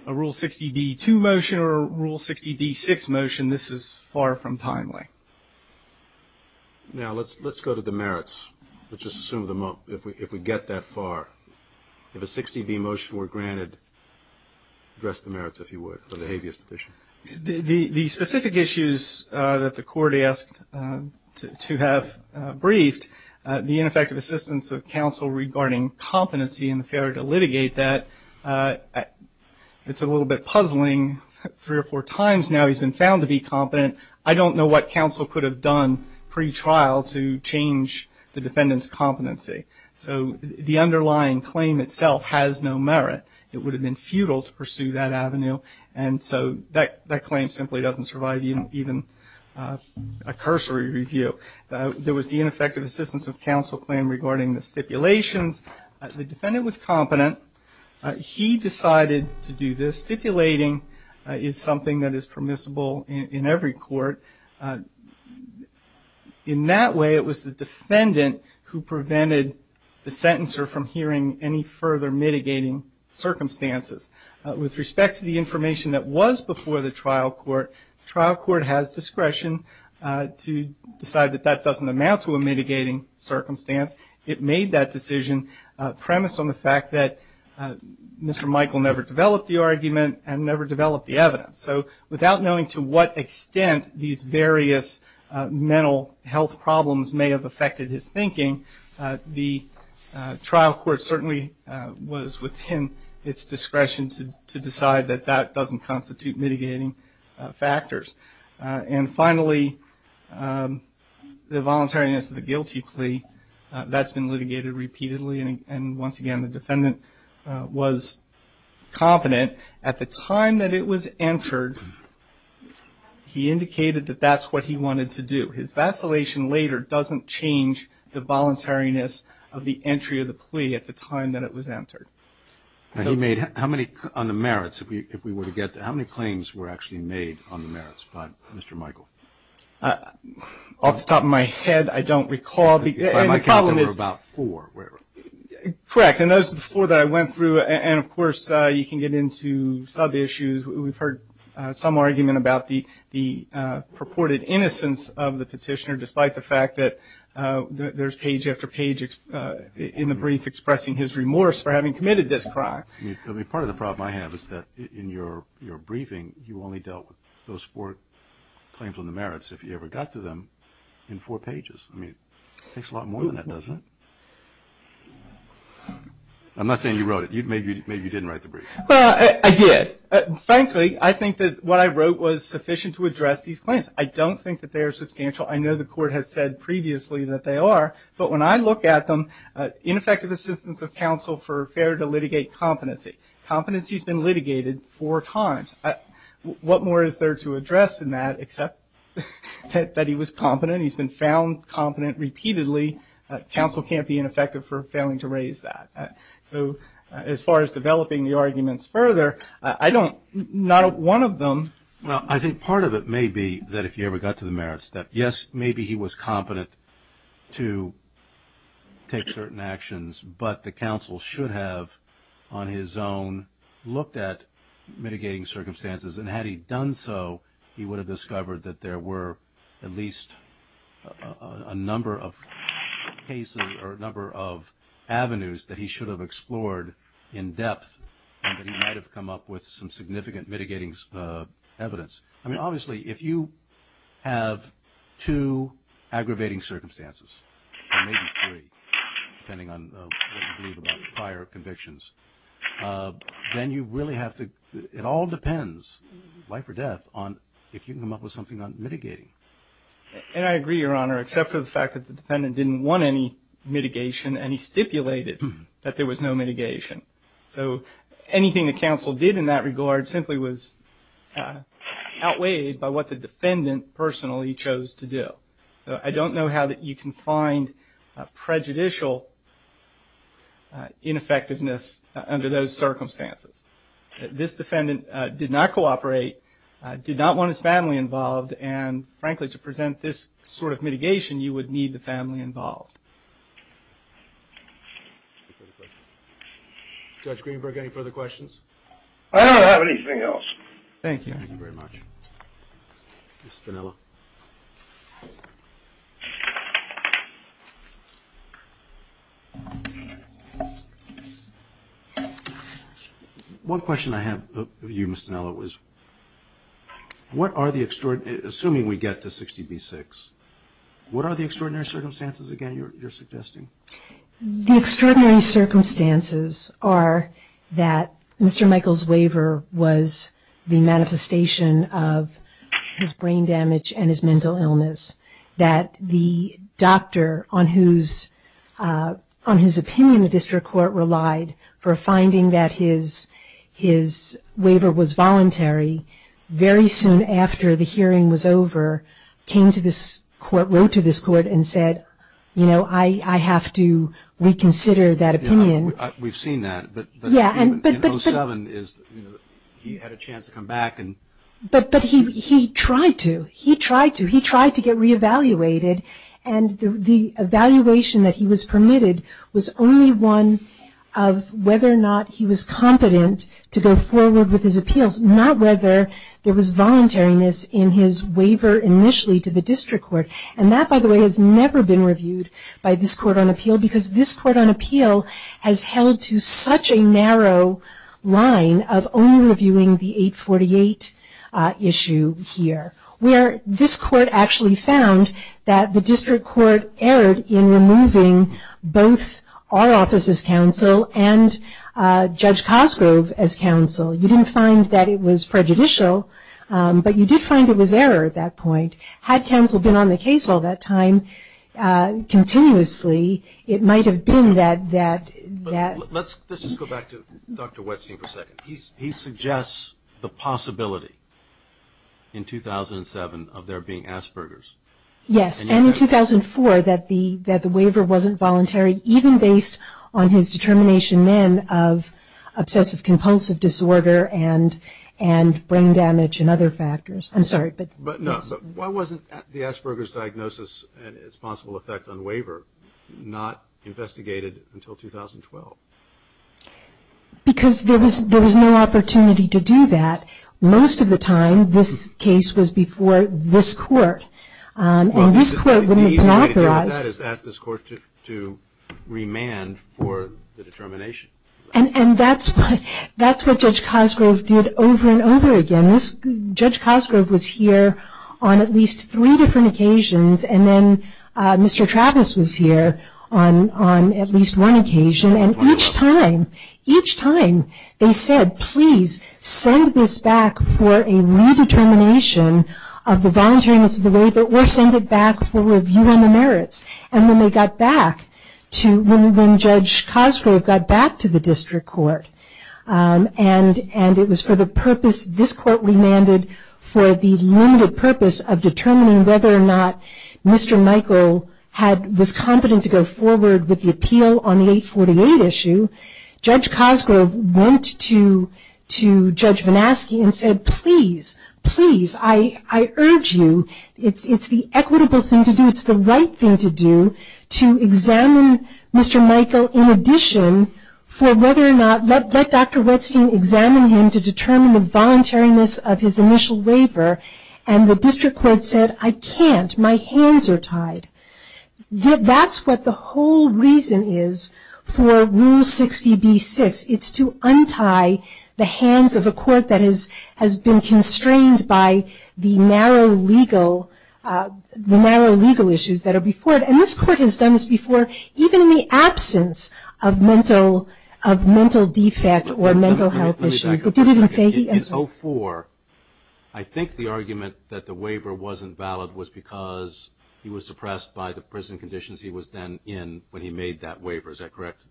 a Rule 60b-2 motion or a Rule 60b-6 motion, this is far from timely. Now let's go to the merits. Let's just assume if we get that far, if a 60b motion were granted, address the merits, if you would, for the habeas petition. The specific issues that the court asked to have briefed, the ineffective assistance of counsel regarding competency and the failure to litigate that. It's a little bit puzzling. Three or four times now he's been found to be competent. I don't know what counsel could have done pretrial to change the defendant's competency. So the underlying claim itself has no merit. It would have been futile to pursue that avenue, and so that claim simply doesn't survive even a cursory review. There was the ineffective assistance of counsel claim regarding the stipulations. The defendant was competent. He decided to do this. Stipulating is something that is permissible in every court. In that way, it was the defendant who prevented the sentencer from hearing any further mitigating circumstances. With respect to the information that was before the trial court, the trial court has discretion to decide that that doesn't amount to a mitigating circumstance. It made that decision premised on the fact that Mr. Michael never developed the argument and never developed the evidence. So without knowing to what extent these various mental health problems may have affected his thinking, the trial court certainly was within its discretion to decide that that doesn't constitute mitigating factors. And finally, the voluntariness of the guilty plea, that's been litigated repeatedly, and once again the defendant was competent. At the time that it was entered, he indicated that that's what he wanted to do. His vacillation later doesn't change the voluntariness of the entry of the plea at the time that it was entered. How many claims were actually made on the merits by Mr. Michael? Off the top of my head, I don't recall. By my count, there were about four. Correct. And those are the four that I went through. And, of course, you can get into sub-issues. We've heard some argument about the purported innocence of the petitioner, despite the fact that there's page after page in the brief expressing his remorse for having committed this crime. I mean, part of the problem I have is that in your briefing, you only dealt with those four claims on the merits, if you ever got to them, in four pages. I mean, it takes a lot more than that, doesn't it? I'm not saying you wrote it. Maybe you didn't write the brief. Well, I did. Frankly, I think that what I wrote was sufficient to address these claims. I don't think that they are substantial. I know the court has said previously that they are. But when I look at them, ineffective assistance of counsel for failure to litigate competency. Competency has been litigated four times. What more is there to address than that, except that he was competent, he's been found competent repeatedly. Counsel can't be ineffective for failing to raise that. So as far as developing the arguments further, I don't, not one of them. Well, I think part of it may be that if you ever got to the merits, that, yes, maybe he was competent to take certain actions, but the counsel should have on his own looked at mitigating circumstances. And had he done so, he would have discovered that there were at least a number of cases or a number of avenues that he should have explored in depth and that he might have come up with some significant mitigating evidence. I mean, obviously, if you have two aggravating circumstances, or maybe three, depending on what you believe about prior convictions, then you really have to, it all depends, life or death, on if you can come up with something on mitigating. And I agree, Your Honor, except for the fact that the defendant didn't want any mitigation and he stipulated that there was no mitigation. So anything the counsel did in that regard simply was outweighed by what the defendant personally chose to do. I don't know how you can find prejudicial ineffectiveness under those circumstances. This defendant did not cooperate, did not want his family involved, and frankly, to present this sort of mitigation, you would need the family involved. Judge Greenberg, any further questions? I don't have anything else. Thank you. Thank you very much. Ms. Dinello. One question I have of you, Ms. Dinello, is what are the extraordinary, assuming we get to 60B-6, what are the extraordinary circumstances, again, you're suggesting? The extraordinary circumstances are that Mr. Michael's waiver was the manifestation of his brain damage and his mental illness, that the doctor on whose opinion the district court relied for finding that his waiver was voluntary very soon after the hearing was over came to this court, wrote to this court and said, you know, I have to reconsider that opinion. We've seen that. In 07, he had a chance to come back. But he tried to. He tried to. He tried to get reevaluated, and the evaluation that he was permitted was only one of whether or not he was competent to go forward with his appeals, not whether there was voluntariness in his waiver initially to the district court. And that, by the way, has never been reviewed by this court on appeal, because this court on appeal has held to such a narrow line of only reviewing the 848 issue here, where this court actually found that the district court erred in removing both our office as counsel and Judge Cosgrove as counsel. You didn't find that it was prejudicial, but you did find it was error at that point. Had counsel been on the case all that time, continuously, it might have been that. Let's just go back to Dr. Westing for a second. He suggests the possibility in 2007 of there being Asperger's. Yes, and in 2004 that the waiver wasn't voluntary, even based on his determination then of obsessive-compulsive disorder and brain damage and other factors. I'm sorry. But no. Why wasn't the Asperger's diagnosis and its possible effect on waiver not investigated until 2012? Because there was no opportunity to do that. Most of the time this case was before this court. And this court would have been authorized. The easy way to deal with that is to ask this court to remand for the determination. And that's what Judge Cosgrove did over and over again. Judge Cosgrove was here on at least three different occasions. And then Mr. Travis was here on at least one occasion. And each time, each time, they said, please send this back for a redetermination of the volunteering of the waiver or send it back for review on the merits. And then they got back to when Judge Cosgrove got back to the district court. And it was for the purpose this court remanded for the limited purpose of determining whether or not Mr. Michael was competent to go forward with the appeal on the 848 issue. Judge Cosgrove went to Judge Vanaski and said, please, please, I urge you, it's the equitable thing to do, it's the right thing to do, to examine Mr. Michael in addition for whether or not, let Dr. Redstein examine him to determine the voluntariness of his initial waiver. And the district court said, I can't, my hands are tied. That's what the whole reason is for Rule 60b-6. It's to untie the hands of a court that has been constrained by the narrow legal, the narrow legal issues that are before it. And this court has done this before, even in the absence of mental, of mental defect or mental health issues. Let me back up for a second. In 04, I think the argument that the waiver wasn't valid was because he was suppressed by the prison conditions he was then in when he made that waiver, is that correct?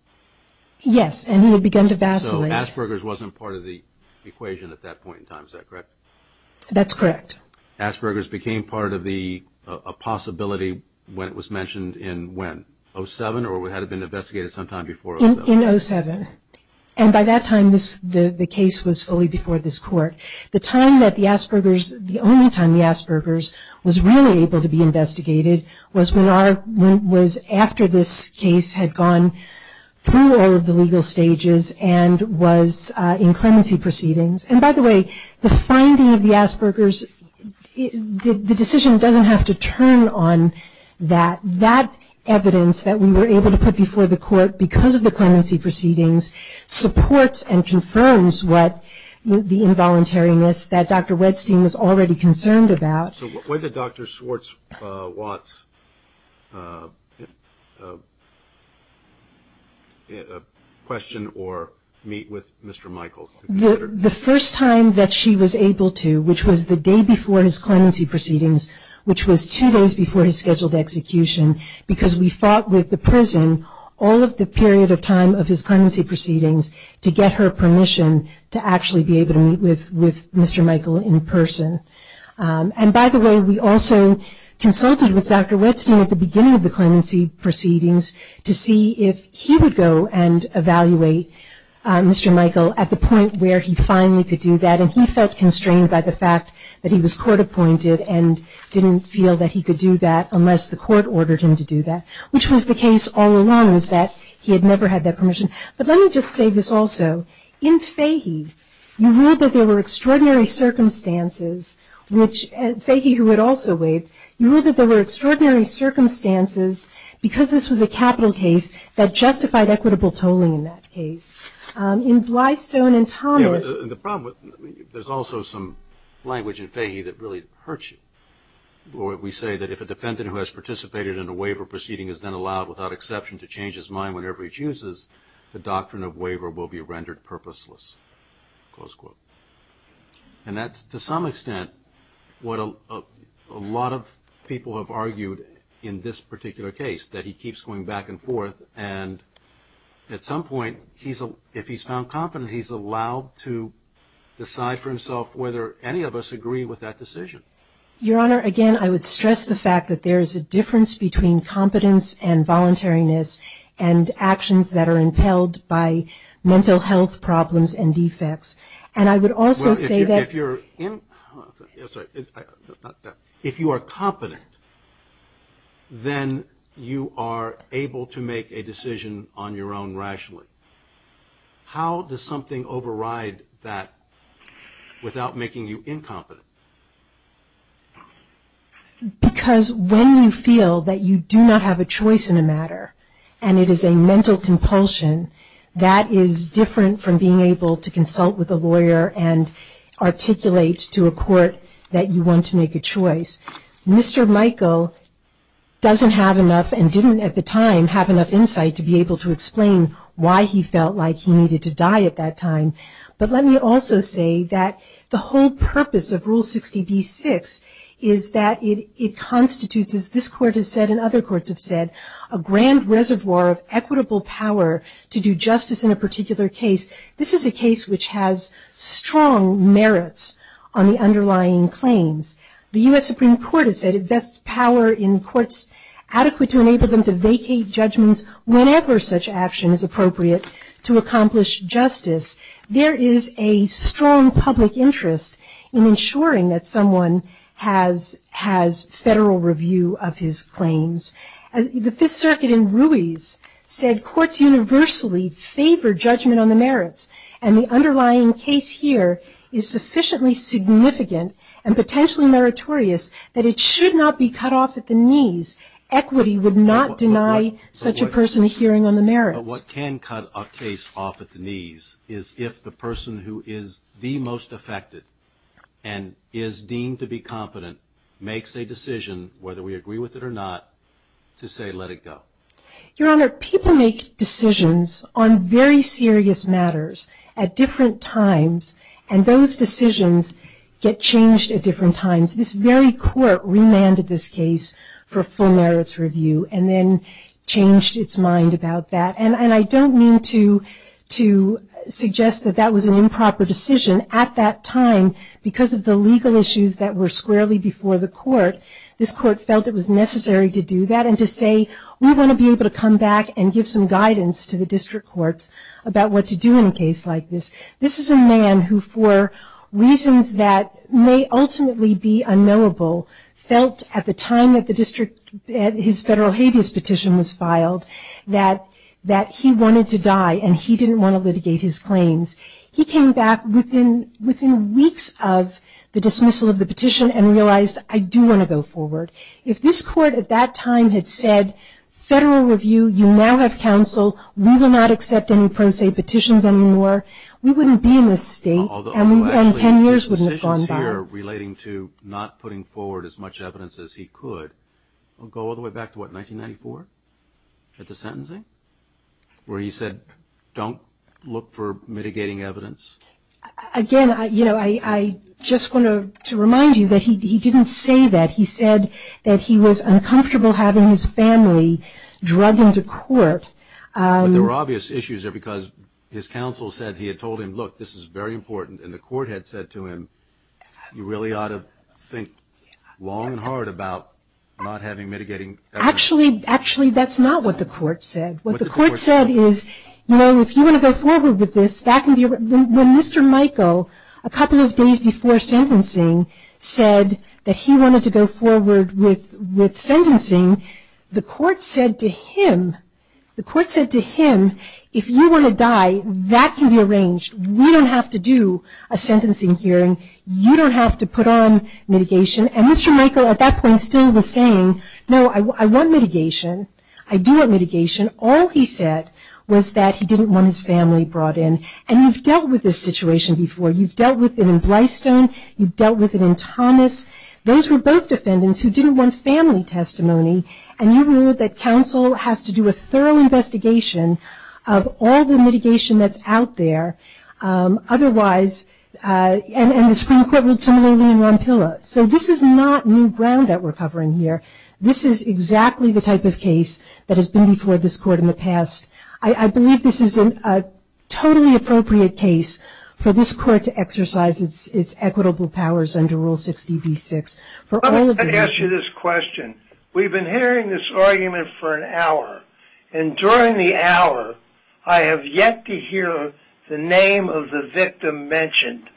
Yes, and he had begun to vacillate. So Asperger's wasn't part of the equation at that point in time, is that correct? That's correct. Asperger's became part of the possibility when it was mentioned in when, 07 or had it been investigated sometime before 07? In 07. And by that time, the case was fully before this court. The time that the Asperger's, the only time the Asperger's was really able to be investigated, was when our, was after this case had gone through all of the legal stages and was in clemency proceedings. And by the way, the finding of the Asperger's, the decision doesn't have to turn on that. That evidence that we were able to put before the court because of the clemency proceedings, supports and confirms what the involuntariness that Dr. Wedstein was already concerned about. So when did Dr. Swartz-Watts question or meet with Mr. Michaels? The first time that she was able to, which was the day before his clemency proceedings, which was two days before his scheduled execution, because we fought with the prison all of the period of time of his clemency proceedings to get her permission to actually be able to meet with Mr. Michael in person. And by the way, we also consulted with Dr. Wedstein at the beginning of the clemency proceedings to see if he would go and evaluate Mr. Michael at the point where he finally could do that. And he felt constrained by the fact that he was court appointed and didn't feel that he could do that unless the court ordered him to do that, which was the case all along, was that he had never had that permission. But let me just say this also. In Fahy, you ruled that there were extraordinary circumstances, which Fahy, who had also waived, you ruled that there were extraordinary circumstances, because this was a capital case, that justified equitable tolling in that case. In Blystone and Thomas – Yeah, but the problem with – there's also some language in Fahy that really hurts you, where we say that if a defendant who has participated in a waiver proceeding is then allowed without exception to change his mind whenever he chooses, the doctrine of waiver will be rendered purposeless, close quote. And that's, to some extent, what a lot of people have argued in this particular case, that he keeps going back and forth, and at some point, if he's found competent, he's allowed to decide for himself whether any of us agree with that decision. Your Honor, again, I would stress the fact that there is a difference between competence and voluntariness and actions that are impelled by mental health problems and defects. And I would also say that – Well, if you're – I'm sorry. If you are competent, then you are able to make a decision on your own rationally. How does something override that without making you incompetent? Because when you feel that you do not have a choice in a matter, and it is a mental compulsion, that is different from being able to consult with a lawyer and articulate to a court that you want to make a choice. Mr. Michael doesn't have enough and didn't at the time have enough insight to be able to explain why he felt like he needed to die at that time. But let me also say that the whole purpose of Rule 60b-6 is that it constitutes, as this Court has said and other courts have said, a grand reservoir of equitable power to do justice in a particular case. This is a case which has strong merits on the underlying claims. The U.S. Supreme Court has said it vests power in courts adequate to enable them to vacate judgments whenever such action is appropriate to accomplish justice. There is a strong public interest in ensuring that someone has federal review of his claims. The Fifth Circuit in Ruiz said courts universally favor judgment on the merits, and the underlying case here is sufficiently significant and potentially meritorious that it should not be cut off at the knees. Equity would not deny such a person a hearing on the merits. But what can cut a case off at the knees is if the person who is the most affected and is deemed to be competent makes a decision, whether we agree with it or not, to say let it go. Your Honor, people make decisions on very serious matters at different times, and those decisions get changed at different times. This very Court remanded this case for full merits review and then changed its mind about that. And I don't mean to suggest that that was an improper decision. At that time, because of the legal issues that were squarely before the Court, this Court felt it was necessary to do that and to say we want to be able to come back and give some guidance to the district courts about what to do in a case like this. This is a man who, for reasons that may ultimately be unknowable, felt at the time that his federal habeas petition was filed that he wanted to die and he didn't want to litigate his claims. He came back within weeks of the dismissal of the petition and realized I do want to go forward. If this Court at that time had said, federal review, you now have counsel, we will not accept any pro se petitions anymore, we wouldn't be in this state, and 10 years wouldn't have gone by. Although actually his decisions here relating to not putting forward as much evidence as he could go all the way back to what, 1994, at the sentencing, where he said don't look for mitigating evidence? Again, you know, I just want to remind you that he didn't say that. He said that he was uncomfortable having his family drugged into court. But there were obvious issues there because his counsel said he had told him, look, this is very important, and the Court had said to him, you really ought to think long and hard about not having mitigating evidence. Actually, that's not what the Court said. What the Court said is, you know, if you want to go forward with this, that can be arranged. When Mr. Michael, a couple of days before sentencing, said that he wanted to go forward with sentencing, the Court said to him, the Court said to him, if you want to die, that can be arranged. We don't have to do a sentencing hearing. You don't have to put on mitigation. And Mr. Michael, at that point, still was saying, no, I want mitigation. I do want mitigation. All he said was that he didn't want his family brought in. And you've dealt with this situation before. You've dealt with it in Blystone. You've dealt with it in Thomas. Those were both defendants who didn't want family testimony, and you ruled that counsel has to do a thorough investigation of all the mitigation that's out there. Otherwise, and the Supreme Court ruled similarly in Rampilla. So this is not new ground that we're covering here. This is exactly the type of case that has been before this Court in the past. I believe this is a totally appropriate case for this Court to exercise its equitable powers under Rule 60b-6. Let me ask you this question. We've been hearing this argument for an hour, and during the hour, I have yet to hear the name of the victim mentioned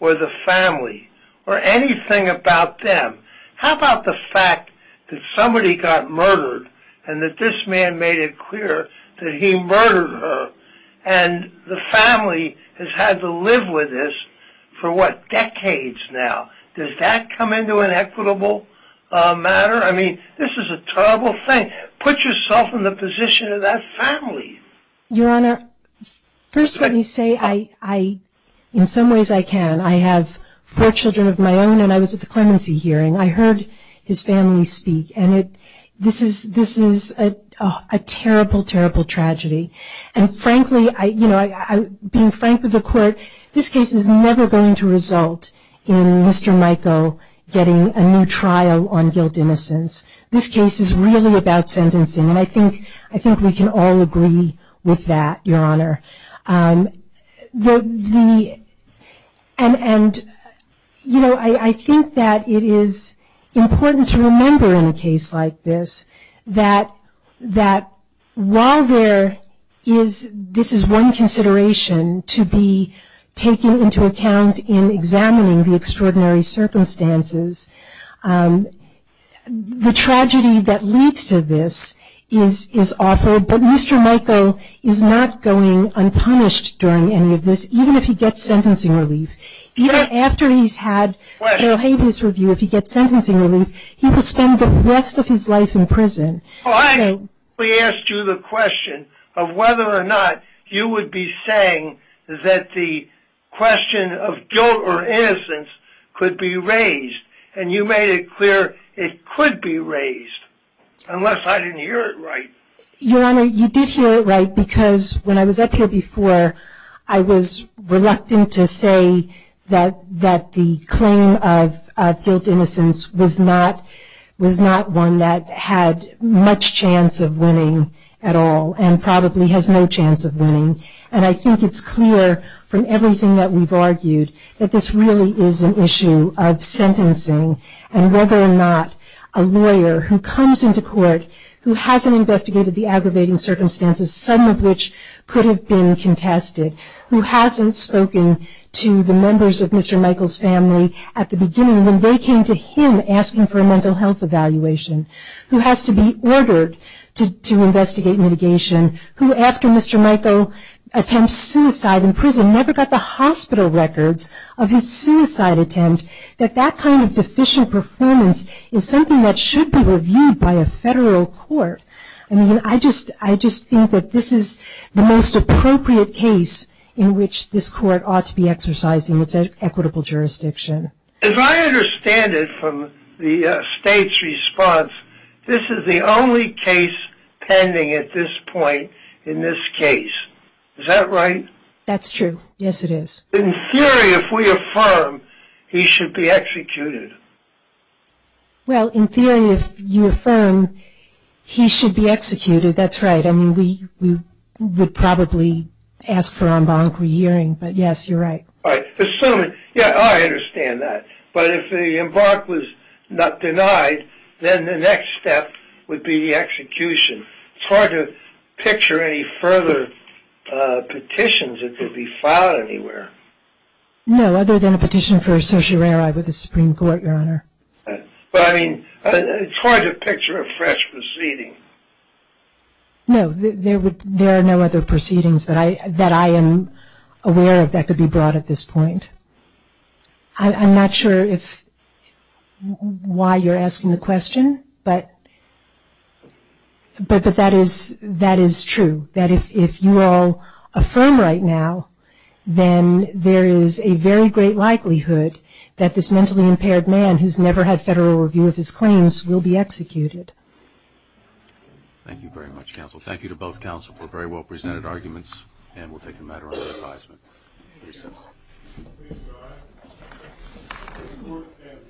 or the family or anything about them. How about the fact that somebody got murdered, and that this man made it clear that he murdered her, and the family has had to live with this for, what, decades now? Does that come into an equitable matter? I mean, this is a terrible thing. Put yourself in the position of that family. Your Honor, first let me say, in some ways I can. I have four children of my own, and I was at the clemency hearing. I heard his family speak, and this is a terrible, terrible tragedy. And, frankly, being frank with the Court, this case is never going to result in Mr. Mico getting a new trial on guilt innocence. This case is really about sentencing, and I think we can all agree with that, Your Honor. And, you know, I think that it is important to remember in a case like this that while there is, this is one consideration to be taken into account in examining the extraordinary circumstances, the tragedy that leads to this is awful, but Mr. Mico is not going unpunished during any of this, even if he gets sentencing relief. Even after he's had O'Hagan's review, if he gets sentencing relief, he will spend the rest of his life in prison. Well, I actually asked you the question of whether or not you would be saying that the question of guilt or innocence could be raised, and you made it clear it could be raised, unless I didn't hear it right. Your Honor, you did hear it right because when I was up here before, I was reluctant to say that the claim of guilt innocence was not one that had much chance of winning at all and probably has no chance of winning. And I think it's clear from everything that we've argued that this really is an issue of sentencing and whether or not a lawyer who comes into court who hasn't investigated the aggravating circumstances, some of which could have been contested, who hasn't spoken to the members of Mr. Mico's family at the beginning when they came to him asking for a mental health evaluation, who has to be ordered to investigate mitigation, who after Mr. Mico attempts suicide in prison never got the hospital records of his suicide attempt, that that kind of deficient performance is something that should be reviewed by a federal court. I mean, I just think that this is the most appropriate case in which this court ought to be exercising its equitable jurisdiction. As I understand it from the State's response, this is the only case pending at this point in this case. Is that right? That's true. Yes, it is. In theory, if we affirm, he should be executed. Well, in theory, if you affirm he should be executed, that's right. I mean, we would probably ask for en banc re-hearing, but yes, you're right. All right. I understand that. But if the en banc was not denied, then the next step would be the execution. It's hard to picture any further petitions that could be filed anywhere. No, other than a petition for certiorari with the Supreme Court, Your Honor. But, I mean, it's hard to picture a fresh proceeding. No, there are no other proceedings that I am aware of that could be brought at this point. I'm not sure why you're asking the question, but that is true, that if you all affirm right now, then there is a very great likelihood that this mentally impaired man who's never had federal review of his claims will be executed. Thank you very much, counsel. Thank you to both counsel for very well-presented arguments, Recess. Thank you, Your Honor.